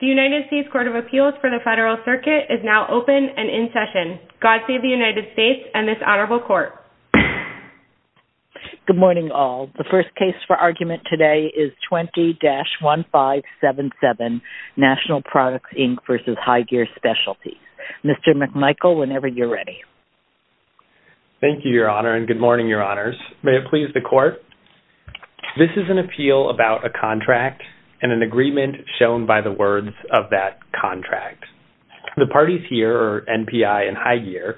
The United States Court of Appeals for the Federal Circuit is now open and in session. God save the United States and this Honorable Court. Good morning, all. The first case for argument today is 20-1577, National Products, Inc. v. High Gear Specialties. Mr. McMichael, whenever you're ready. Thank you, Your Honor, and good morning, Your Honors. May it please the Court? This is an appeal about a contract and an agreement shown by the words of that contract. The parties here are NPI and High Gear.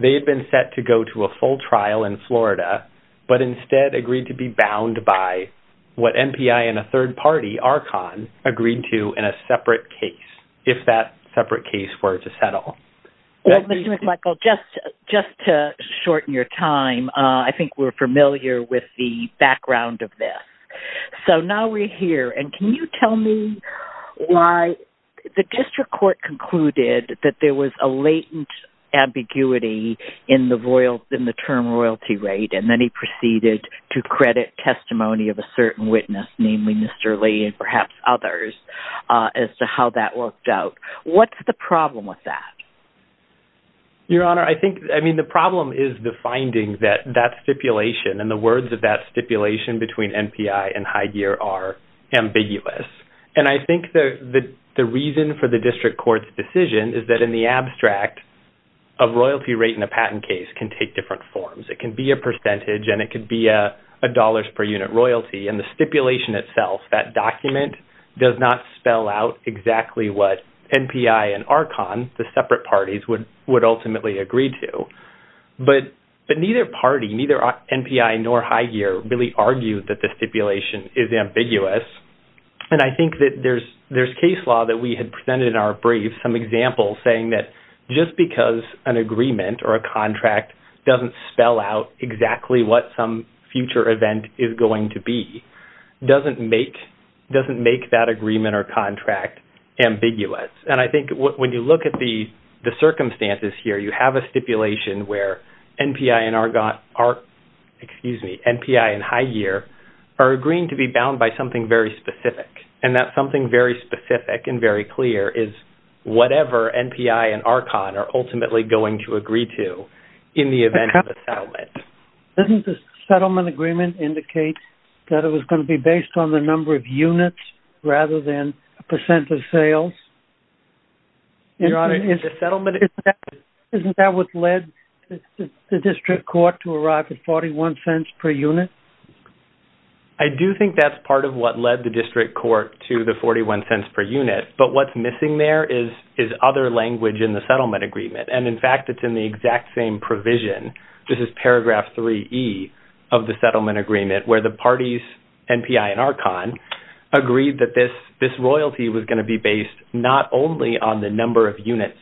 They have been set to go to a full trial in Florida, but instead agreed to be bound by what NPI and a third party, ARCON, agreed to in a separate case, if that separate case were to settle. Mr. McMichael, just to shorten your time, I think we're familiar with the background of this. So now we're here, and can you tell me why the district court concluded that there was a latent ambiguity in the term royalty rate, and then he proceeded to credit testimony of a certain witness, namely Mr. Lee and perhaps others, as to how that worked out. What's the problem with that? Your Honor, I think the problem is the finding that that stipulation and the words of that stipulation between NPI and High Gear are ambiguous. And I think the reason for the district court's decision is that in the abstract, a royalty rate in a patent case can take different forms. It can be a percentage, and it could be a dollars per unit royalty, and the stipulation itself, that document, does not spell out exactly what NPI and ARCON, the separate parties, would ultimately agree to. But neither party, neither NPI nor High Gear, really argued that the stipulation is ambiguous. And I think that there's case law that we had presented in our brief, some examples saying that just because an agreement or a contract doesn't spell out exactly what some future event is going to be, doesn't make that agreement or contract ambiguous. And I think when you look at the circumstances here, you have a stipulation where NPI and High Gear are agreeing to be bound by something very specific. And that something very specific and very clear is whatever NPI and ARCON are ultimately going to agree to in the event of a settlement. Doesn't the settlement agreement indicate that it was going to be based on the number of units rather than a percent of sales? Your Honor, isn't the settlement... Isn't that what led the district court to arrive at 41 cents per unit? I do think that's part of what led the district court to the 41 cents per unit. But what's missing there is other language in the settlement agreement. And, in fact, it's in the exact same provision. This is paragraph 3E of the settlement agreement where the parties, NPI and ARCON, agreed that this royalty was going to be based not only on the number of units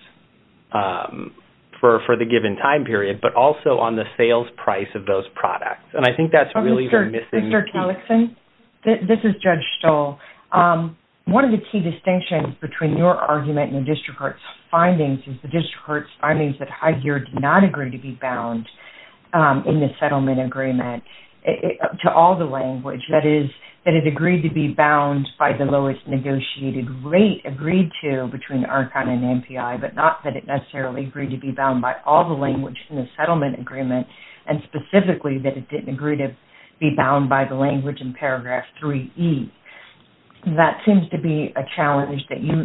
for the given time period, but also on the sales price of those products. And I think that's really the missing piece. This is Judge Stoll. One of the key distinctions between your argument and the district court's findings is the district court's findings that High Gear did not agree to be bound in the settlement agreement to all the language. That is, that it agreed to be bound by the lowest negotiated rate agreed to between ARCON and NPI, but not that it necessarily agreed to be bound by all the language in the settlement agreement. And, specifically, that it didn't agree to be bound by the language in paragraph 3E. That seems to be a challenge that you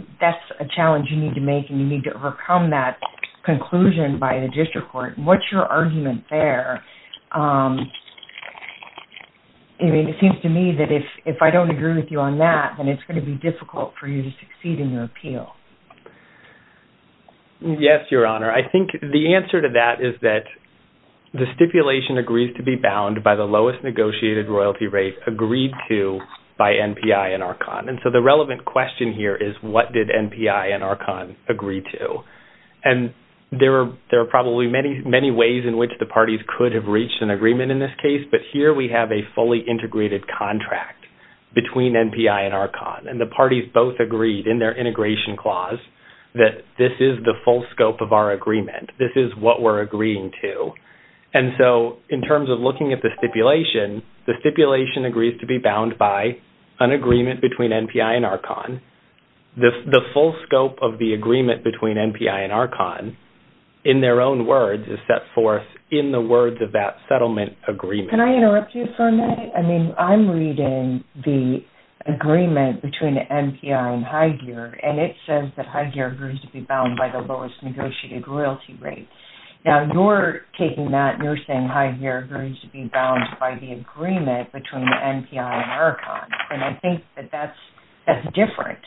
need to make, and you need to overcome that conclusion by the district court. What's your argument there? It seems to me that if I don't agree with you on that, then it's going to be difficult for you to succeed in your appeal. Yes, Your Honor. I think the answer to that is that the stipulation agrees to be bound by the lowest negotiated royalty rate agreed to by NPI and ARCON. And so the relevant question here is, what did NPI and ARCON agree to? And there are probably many ways in which the parties could have reached an agreement in this case, but here we have a fully integrated contract between NPI and ARCON. And the parties both agreed in their integration clause that this is the full scope of our agreement. This is what we're agreeing to. And so in terms of looking at the stipulation, the stipulation agrees to be bound by an agreement between NPI and ARCON. The full scope of the agreement between NPI and ARCON, in their own words, is set forth in the words of that settlement agreement. Can I interrupt you for a minute? I mean, I'm reading the agreement between NPI and Hygear, and it says that Hygear agrees to be bound by the lowest negotiated royalty rate. Now, you're taking that and you're saying Hygear agrees to be bound by the agreement between NPI and ARCON, and I think that that's different.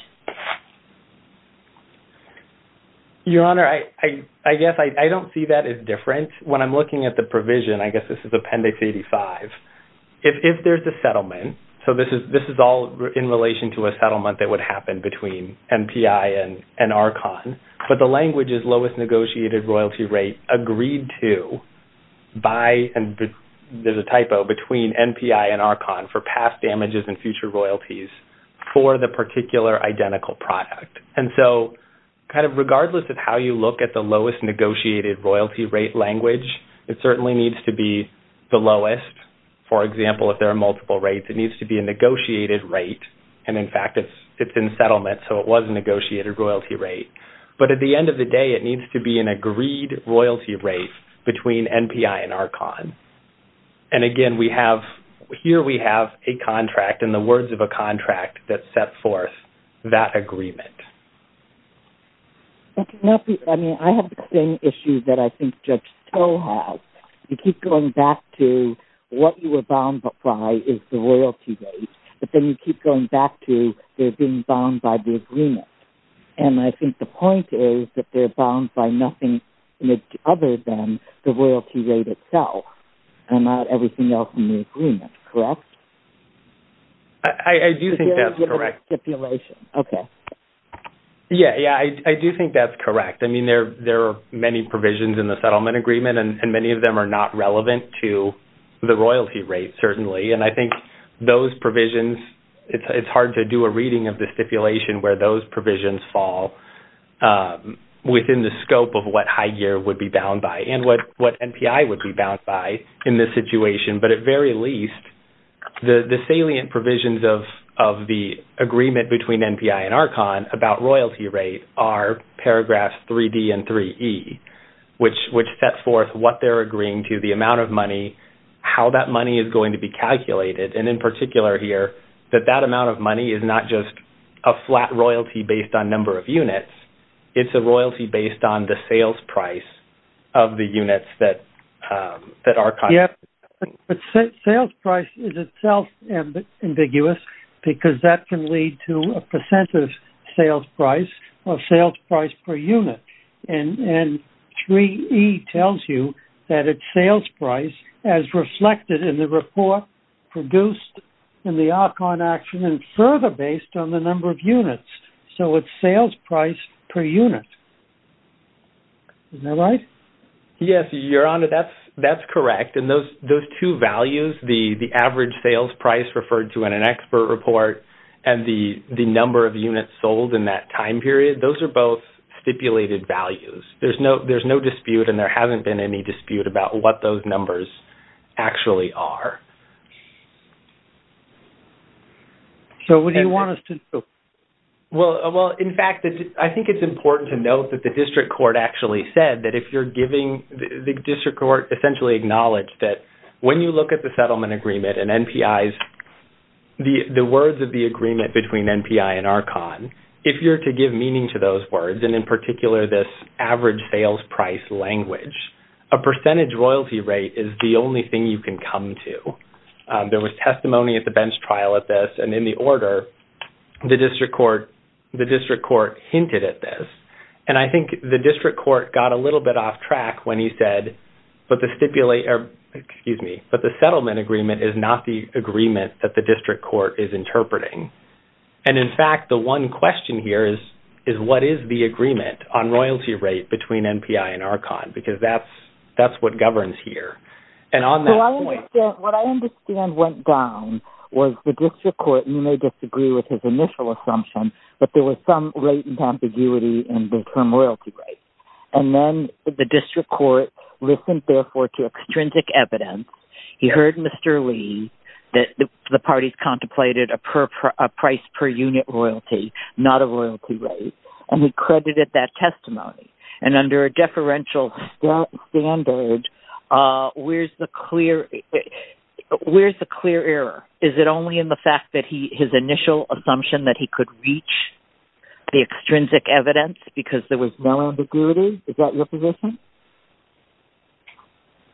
Your Honor, I guess I don't see that as different. When I'm looking at the provision, I guess this is Appendix 85, if there's a settlement, so this is all in relation to a settlement that would happen between NPI and ARCON, but the language is lowest negotiated royalty rate agreed to by, and there's a typo, between NPI and ARCON for past damages and future royalties for the particular identical product. And so, kind of regardless of how you look at the lowest negotiated royalty rate language, it certainly needs to be the lowest. For example, if there are multiple rates, it needs to be a negotiated rate, and in fact, it's in settlement, so it was a negotiated royalty rate. But at the end of the day, it needs to be an agreed royalty rate between NPI and ARCON. And again, here we have a contract and the words of a contract that set forth that agreement. I have the same issue that I think Judge Stowe has. You keep going back to what you were bound by is the royalty rate, but then you keep going back to they're being bound by the agreement. And I think the point is that they're bound by nothing other than the royalty rate itself and not everything else in the agreement. Correct? I do think that's correct. Okay. Yeah, yeah, I do think that's correct. I mean, there are many provisions in the settlement agreement, and many of them are not relevant to the royalty rate, certainly. And I think those provisions, it's hard to do a reading of the stipulation where those provisions fall within the scope of what High Gear would be bound by and what NPI would be bound by in this situation. But at very least, the salient provisions of the agreement between NPI and ARCON about royalty rate are paragraphs 3D and 3E, which set forth what they're agreeing to, the amount of money, how that money is going to be calculated. And in particular here, that that amount of money is not just a flat royalty based on number of units. It's a royalty based on the sales price of the units that ARCON... Yeah, but sales price is itself ambiguous because that can lead to a percent of sales price or sales price per unit. And 3E tells you that it's sales price as reflected in the report produced in the ARCON action and further based on the number of units. So it's sales price per unit. Is that right? Yes, Your Honor, that's correct. And those two values, the average sales price referred to in an expert report and the number of units sold in that time period, those are both stipulated values. There's no dispute and there hasn't been any dispute about what those numbers actually are. So what do you want us to do? Well, in fact, I think it's important to note that the district court actually said that if you're giving... the district court essentially acknowledged that when you look at the settlement agreement and NPI's... the words of the agreement between NPI and ARCON, if you're to give meaning to those words and in particular this average sales price language, a percentage royalty rate is the only thing you can come to. There was testimony at the bench trial at this and in the order, the district court hinted at this. And I think the district court got a little bit off track when he said, but the settlement agreement is not the agreement that the district court is interpreting. And in fact, the one question here is what is the agreement on royalty rate between NPI and ARCON? Because that's what governs here. And on that point... What I understand went down was the district court, and you may disagree with his initial assumption, but there was some rate and ambiguity in the term royalty rate. And then the district court listened therefore to extrinsic evidence. He heard Mr. Lee that the parties contemplated a price per unit royalty, not a royalty rate. And he credited that testimony. And under a deferential standard, where's the clear error? Is it only in the fact that his initial assumption that he could reach the extrinsic evidence because there was no ambiguity? Is that your position?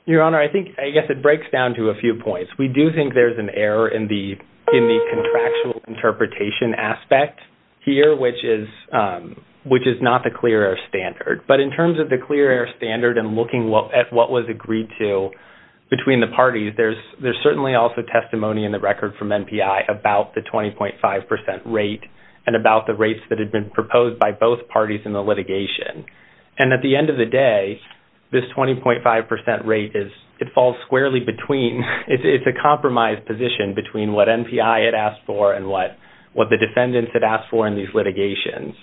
Your Honor, I guess it breaks down to a few points. We do think there's an error in the contractual interpretation aspect here, which is not the clear error standard. But in terms of the clear error standard and looking at what was agreed to between the parties, there's certainly also testimony in the record from NPI about the 20.5% rate and about the rates that had been proposed by both parties in the litigation. And at the end of the day, this 20.5% rate, it falls squarely between. It's a compromised position between what NPI had asked for and what the defendants had asked for in these litigations.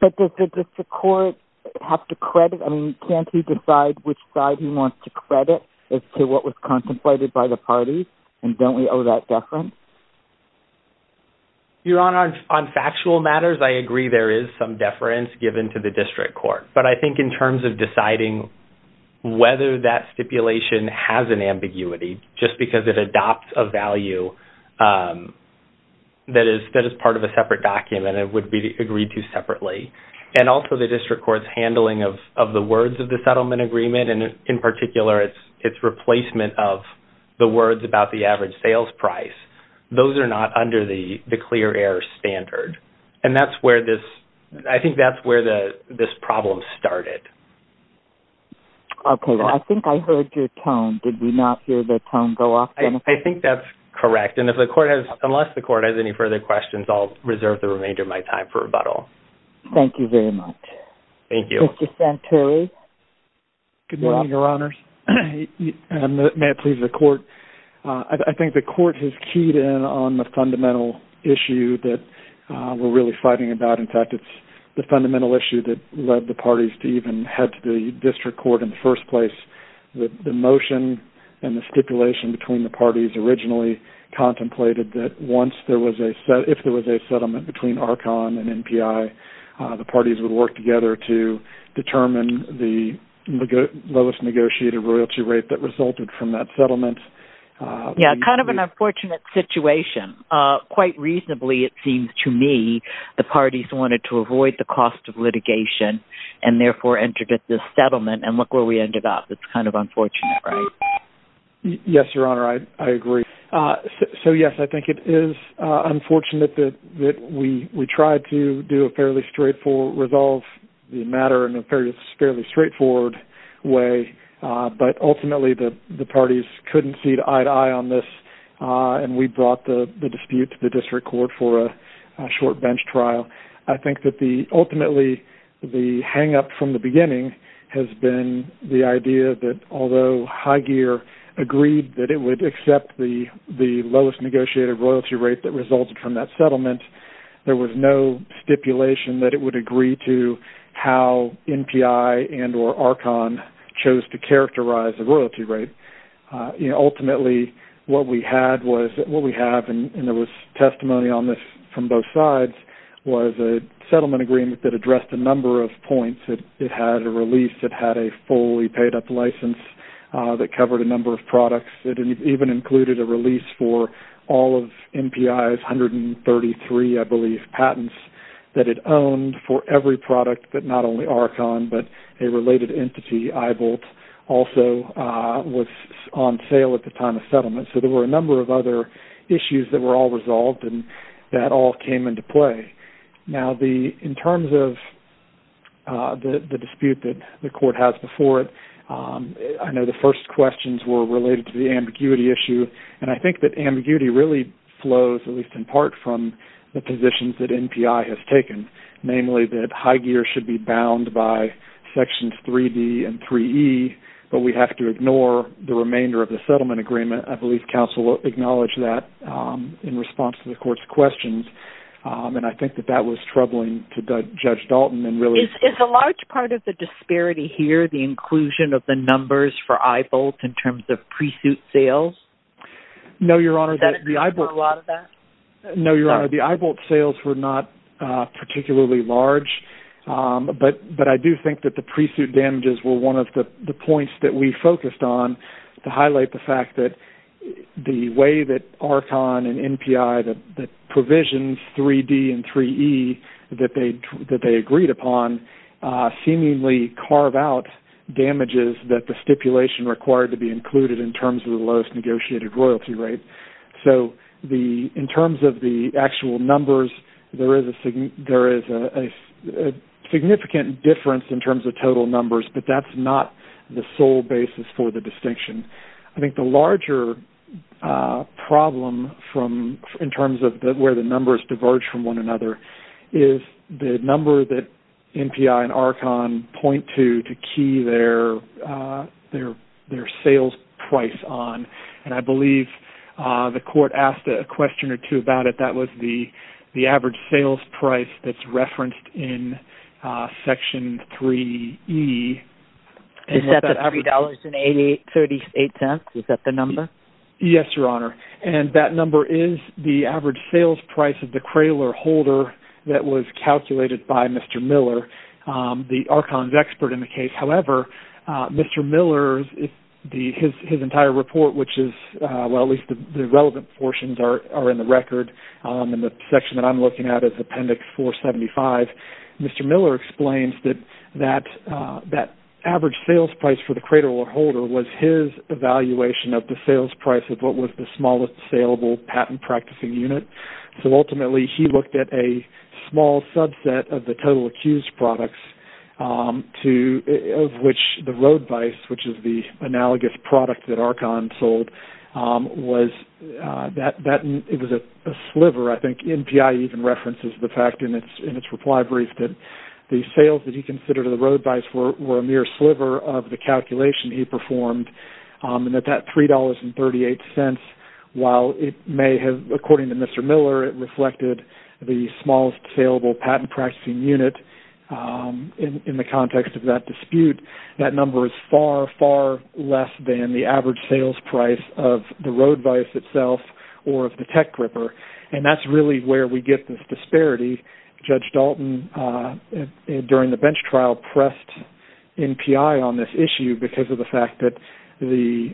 But does the district court have to credit? I mean, can't he decide which side he wants to credit as to what was contemplated by the parties? And don't we owe that deference? Your Honor, on factual matters, I agree there is some deference given to the district court. But I think in terms of deciding whether that stipulation has an ambiguity, just because it adopts a value that is part of a separate document, it would be agreed to separately. And also the district court's handling of the words of the settlement agreement, and in particular its replacement of the words about the average sales price, those are not under the clear air standard. And I think that's where this problem started. Okay. Well, I think I heard your tone. Did we not hear the tone go off? I think that's correct. And unless the court has any further questions, I'll reserve the remainder of my time for rebuttal. Thank you very much. Thank you. Mr. Santelli. Good morning, Your Honors. May it please the court. I think the court has keyed in on the fundamental issue that we're really fighting about. In fact, it's the fundamental issue that led the parties to even head to the district court in the first place. The motion and the stipulation between the parties originally contemplated that once there was a set, settlement between Archon and NPI, the parties would work together to determine the lowest negotiated royalty rate that resulted from that settlement. Yeah, kind of an unfortunate situation. Quite reasonably, it seems to me, the parties wanted to avoid the cost of litigation and therefore entered at this settlement, and look where we ended up. It's kind of unfortunate, right? Yes, Your Honor, I agree. So, yes, I think it is unfortunate that we tried to resolve the matter in a fairly straightforward way, but ultimately the parties couldn't see eye to eye on this, and we brought the dispute to the district court for a short bench trial. I think that ultimately the hang-up from the beginning has been the idea that, although Highgear agreed that it would accept the lowest negotiated royalty rate that resulted from that settlement, there was no stipulation that it would agree to how NPI and or Archon chose to characterize the royalty rate. Ultimately, what we have, and there was testimony on this from both sides, was a settlement agreement that addressed a number of points. It had a release. It had a fully paid-up license that covered a number of products. It even included a release for all of NPI's 133, I believe, patents that it owned for every product that not only Archon but a related entity, Eyebolt, also was on sale at the time of settlement. So there were a number of other issues that were all resolved, and that all came into play. Now, in terms of the dispute that the court has before it, I know the first questions were related to the ambiguity issue, and I think that ambiguity really flows, at least in part, from the positions that NPI has taken, namely that Highgear should be bound by sections 3D and 3E, but we have to ignore the remainder of the settlement agreement. I believe counsel acknowledged that in response to the court's questions, and I think that that was troubling to Judge Dalton. Is a large part of the disparity here the inclusion of the numbers for Eyebolt in terms of pre-suit sales? No, Your Honor, the Eyebolt sales were not particularly large, but I do think that the pre-suit damages were one of the points that we focused on to highlight the fact that the way that Archon and NPI, the provisions 3D and 3E that they agreed upon, seemingly carve out damages that the stipulation required to be included in terms of the lowest negotiated royalty rate. So in terms of the actual numbers, there is a significant difference in terms of total numbers, but that's not the sole basis for the distinction. I think the larger problem in terms of where the numbers diverge from one another is the number that NPI and Archon point to to key their sales price on, and I believe the court asked a question or two about it. That was the average sales price that's referenced in Section 3E. Is that $3.38? Is that the number? Yes, Your Honor, and that number is the average sales price of the Craylor holder that was calculated by Mr. Miller, the Archon's expert in the case. However, Mr. Miller's entire report, at least the relevant portions are in the record, and the section that I'm looking at is Appendix 475. Mr. Miller explains that that average sales price for the Craylor holder was his evaluation of the sales price of what was the smallest saleable patent practicing unit, so ultimately he looked at a small subset of the total accused products of which the road vice, which is the analogous product that Archon sold, was a sliver. I think NPI even references the fact in its reply brief that the sales that he considered in the road vice were a mere sliver of the calculation he performed, and that $3.38, while it may have, according to Mr. Miller, reflected the smallest saleable patent practicing unit, in the context of that dispute, that number is far, far less than the average sales price of the road vice itself or of the tech gripper, and that's really where we get this disparity. Judge Dalton, during the bench trial, pressed NPI on this issue because of the fact that the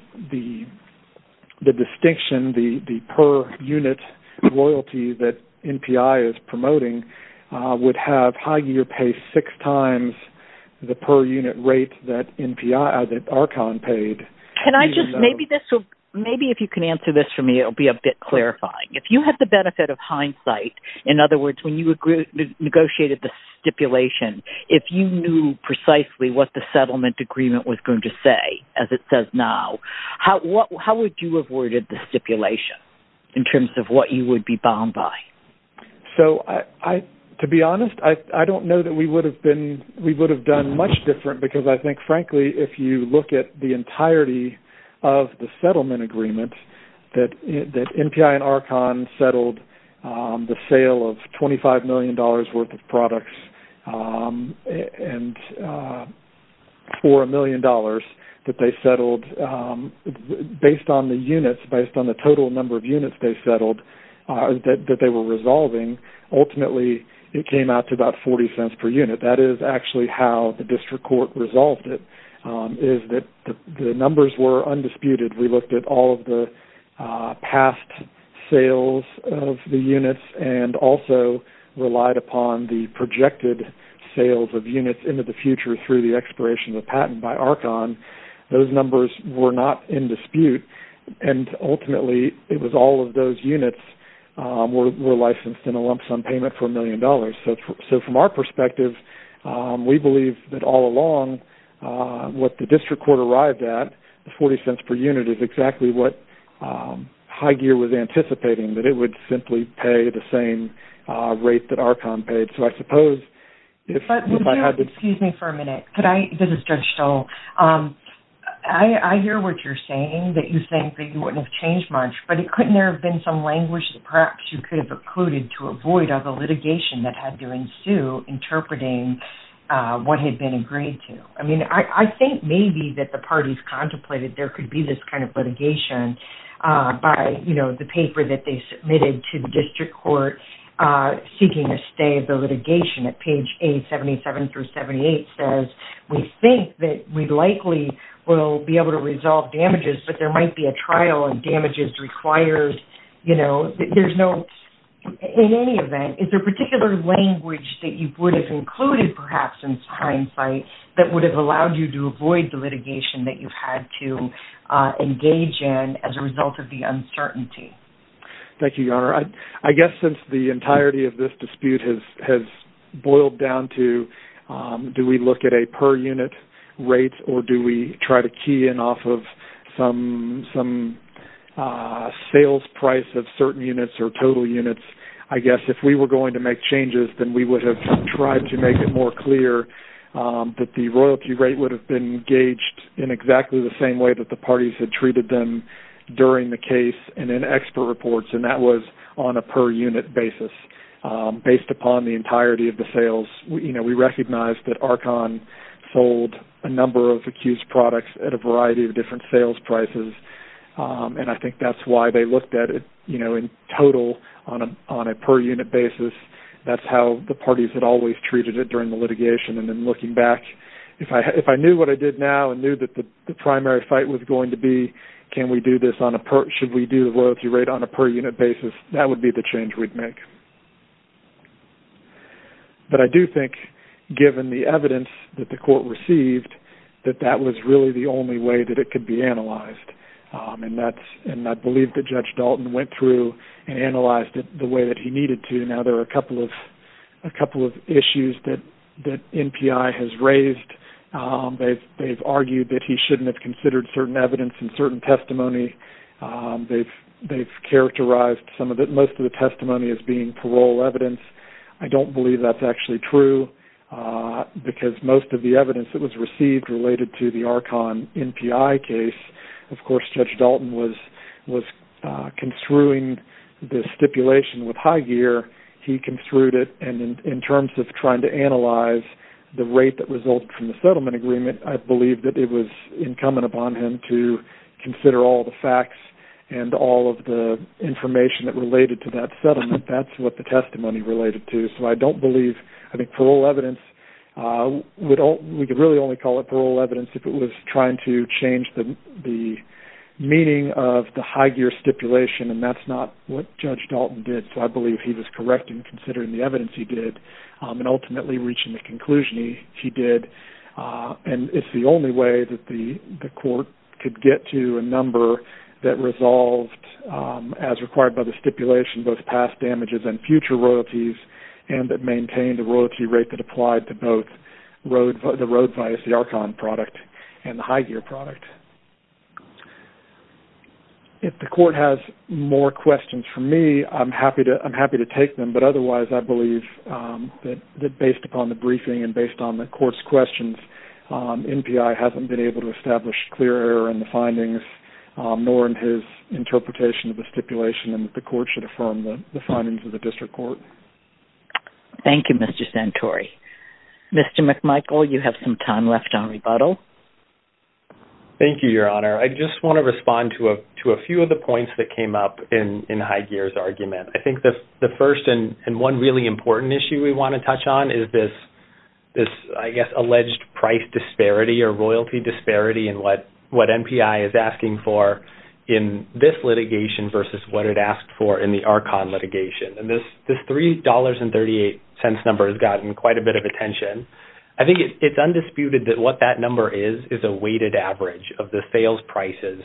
distinction, the per-unit loyalty that NPI is promoting, would have Highgear pay six times the per-unit rate that Archon paid. Maybe if you can answer this for me, it will be a bit clarifying. If you had the benefit of hindsight, in other words, when you negotiated the stipulation, if you knew precisely what the settlement agreement was going to say, as it says now, how would you have worded the stipulation in terms of what you would be bound by? To be honest, I don't know that we would have done much different because I think, frankly, if you look at the entirety of the settlement agreement, that NPI and Archon settled the sale of $25 million worth of products for a million dollars that they settled based on the units, based on the total number of units they settled, that they were resolving, ultimately it came out to about 40 cents per unit. That is actually how the district court resolved it, is that the numbers were undisputed. We looked at all of the past sales of the units and also relied upon the projected sales of units into the future through the expiration of the patent by Archon. Those numbers were not in dispute. Ultimately, it was all of those units were licensed in a lump sum payment for a million dollars. From our perspective, we believe that all along what the district court arrived at, the 40 cents per unit is exactly what Hygear was anticipating, that it would simply pay the same rate that Archon paid. I suppose if I had to... Excuse me for a minute. This is Judge Stoll. I hear what you're saying, that you think that you wouldn't have changed much, but couldn't there have been some language perhaps you could have included to avoid all the litigation that had to ensue interpreting what had been agreed to? I think maybe that the parties contemplated there could be this kind of litigation by the paper that they submitted to the district court seeking a stay of the litigation at page 877 through 78 says, we think that we likely will be able to resolve damages, but there might be a trial and damages required. There's no... In any event, is there particular language that you would have included perhaps in hindsight that would have allowed you to avoid the litigation that you've had to engage in as a result of the uncertainty? Thank you, Your Honor. I guess since the entirety of this dispute has boiled down to do we look at a per unit rate or do we try to key in off of some sales price of certain units or total units, I guess if we were going to make changes, then we would have tried to make it more clear that the royalty rate would have been gauged in exactly the same way that the parties had treated them during the case and in expert reports, and that was on a per unit basis based upon the entirety of the sales. We recognized that Archon sold a number of accused products at a variety of different sales prices, and I think that's why they looked at it in total on a per unit basis. That's how the parties had always treated it during the litigation. Then looking back, if I knew what I did now and knew that the primary fight was going to be should we do the royalty rate on a per unit basis, that would be the change we'd make. But I do think given the evidence that the court received that that was really the only way that it could be analyzed, and I believe that Judge Dalton went through and analyzed it the way that he needed to. Now there are a couple of issues that NPI has raised. They've argued that he shouldn't have considered certain evidence and certain testimony. They've characterized most of the testimony as being parole evidence. I don't believe that's actually true because most of the evidence that was received related to the Archon NPI case, of course Judge Dalton was construing the stipulation with high gear. He construed it, and in terms of trying to analyze the rate that resulted from the settlement agreement, I believe that it was incumbent upon him to consider all the facts and all of the information that related to that settlement. That's what the testimony related to. So I don't believe, I think parole evidence, we could really only call it parole evidence if it was trying to change the meaning of the high gear stipulation, and that's not what Judge Dalton did. So I believe he was correct in considering the evidence he did, and ultimately reaching the conclusion he did. And it's the only way that the court could get to a number that resolved, as required by the stipulation, both past damages and future royalties, and that maintained a royalty rate that applied to both the road via the Archon product and the high gear product. If the court has more questions for me, I'm happy to take them, but otherwise I believe that based upon the briefing and based on the court's questions, NPI hasn't been able to establish clear error in the findings, nor in his interpretation of the stipulation, and that the court should affirm the findings of the district court. Thank you, Mr. Santori. Mr. McMichael, you have some time left on rebuttal. Thank you, Your Honor. I just want to respond to a few of the points that came up in High Gear's argument. I think the first and one really important issue we want to touch on is this, I guess, alleged price disparity or royalty disparity in what NPI is asking for in this litigation versus what it asked for in the Archon litigation. And this $3.38 number has gotten quite a bit of attention. I think it's undisputed that what that number is is a weighted average of the sales prices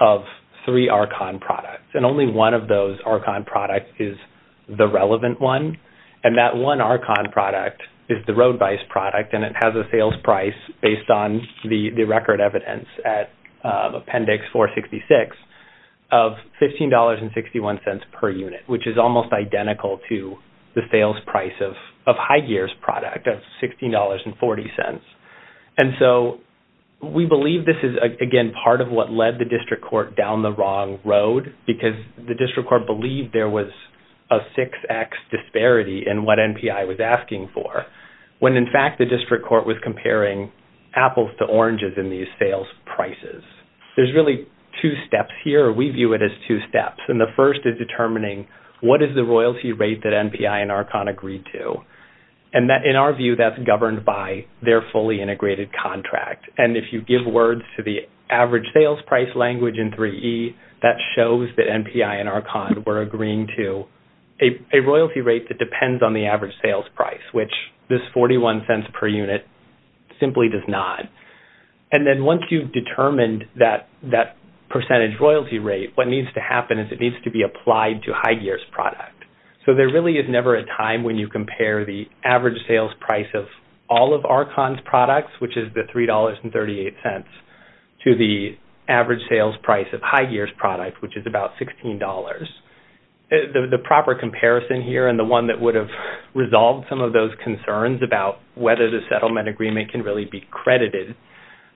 of three Archon products, and only one of those Archon products is the relevant one. And that one Archon product is the road vice product, and it has a sales price based on the record evidence at Appendix 466 of $15.61 per unit, which is almost identical to the sales price of High Gear's product of $16.40. And so we believe this is, again, part of what led the district court down the wrong road because the district court believed there was a 6X disparity in what NPI was asking for, when, in fact, the district court was comparing apples to oranges in these sales prices. There's really two steps here, or we view it as two steps. And the first is determining what is the royalty rate that NPI and Archon agreed to. And in our view, that's governed by their fully integrated contract. And if you give words to the average sales price language in 3E, that shows that NPI and Archon were agreeing to a royalty rate that depends on the average sales price, which this $0.41 per unit simply does not. And then once you've determined that percentage royalty rate, what needs to happen is it needs to be applied to High Gear's product. So there really is never a time when you compare the average sales price of all of Archon's products, which is the $3.38, to the average sales price of High Gear's product, which is about $16. The proper comparison here and the one that would have resolved some of those concerns about whether the settlement agreement can really be credited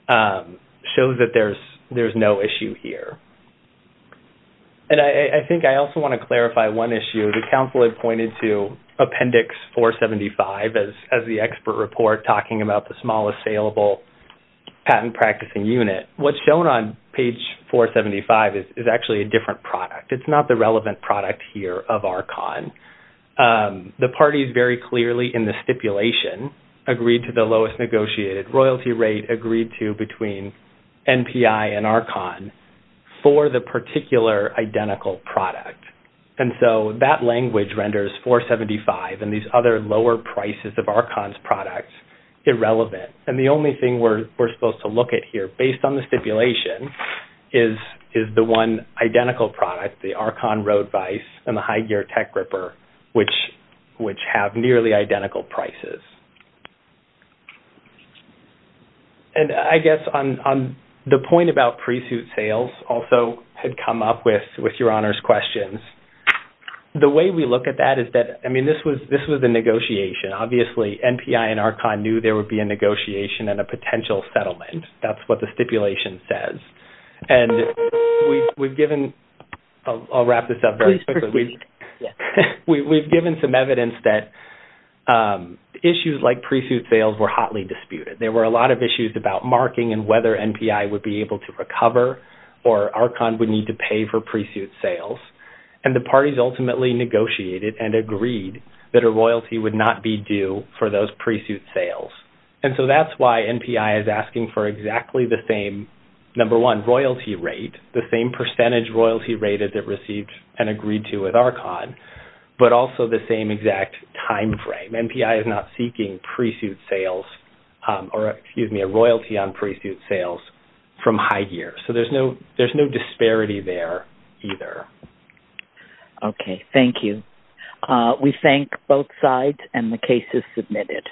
shows that there's no issue here. And I think I also want to clarify one issue. The council had pointed to Appendix 475 as the expert report, talking about the smallest saleable patent practicing unit. What's shown on page 475 is actually a different product. It's not the relevant product here of Archon. The parties very clearly in the stipulation agreed to the lowest negotiated royalty rate, agreed to between NPI and Archon for the particular identical product. And so that language renders 475 and these other lower prices of Archon's products irrelevant. And the only thing we're supposed to look at here based on the stipulation is the one identical product, the Archon Road Vise and the High Gear Tech Gripper, which have nearly identical prices. And I guess on the point about pre-suit sales also had come up with your honors questions. The way we look at that is that, I mean, this was a negotiation. Obviously, NPI and Archon knew there would be a negotiation and a potential settlement. That's what the stipulation says. And we've given – I'll wrap this up very quickly. Please proceed. We've given some evidence that issues like pre-suit sales were hotly disputed. There were a lot of issues about marking and whether NPI would be able to recover or Archon would need to pay for pre-suit sales. And the parties ultimately negotiated and agreed that a royalty would not be due for those pre-suit sales. And so that's why NPI is asking for exactly the same, number one, royalty rate, the same percentage royalty rated that received and agreed to with Archon, but also the same exact timeframe. NPI is not seeking pre-suit sales or, excuse me, a royalty on pre-suit sales from High Gear. So there's no disparity there either. Okay. Thank you. We thank both sides, and the case is submitted.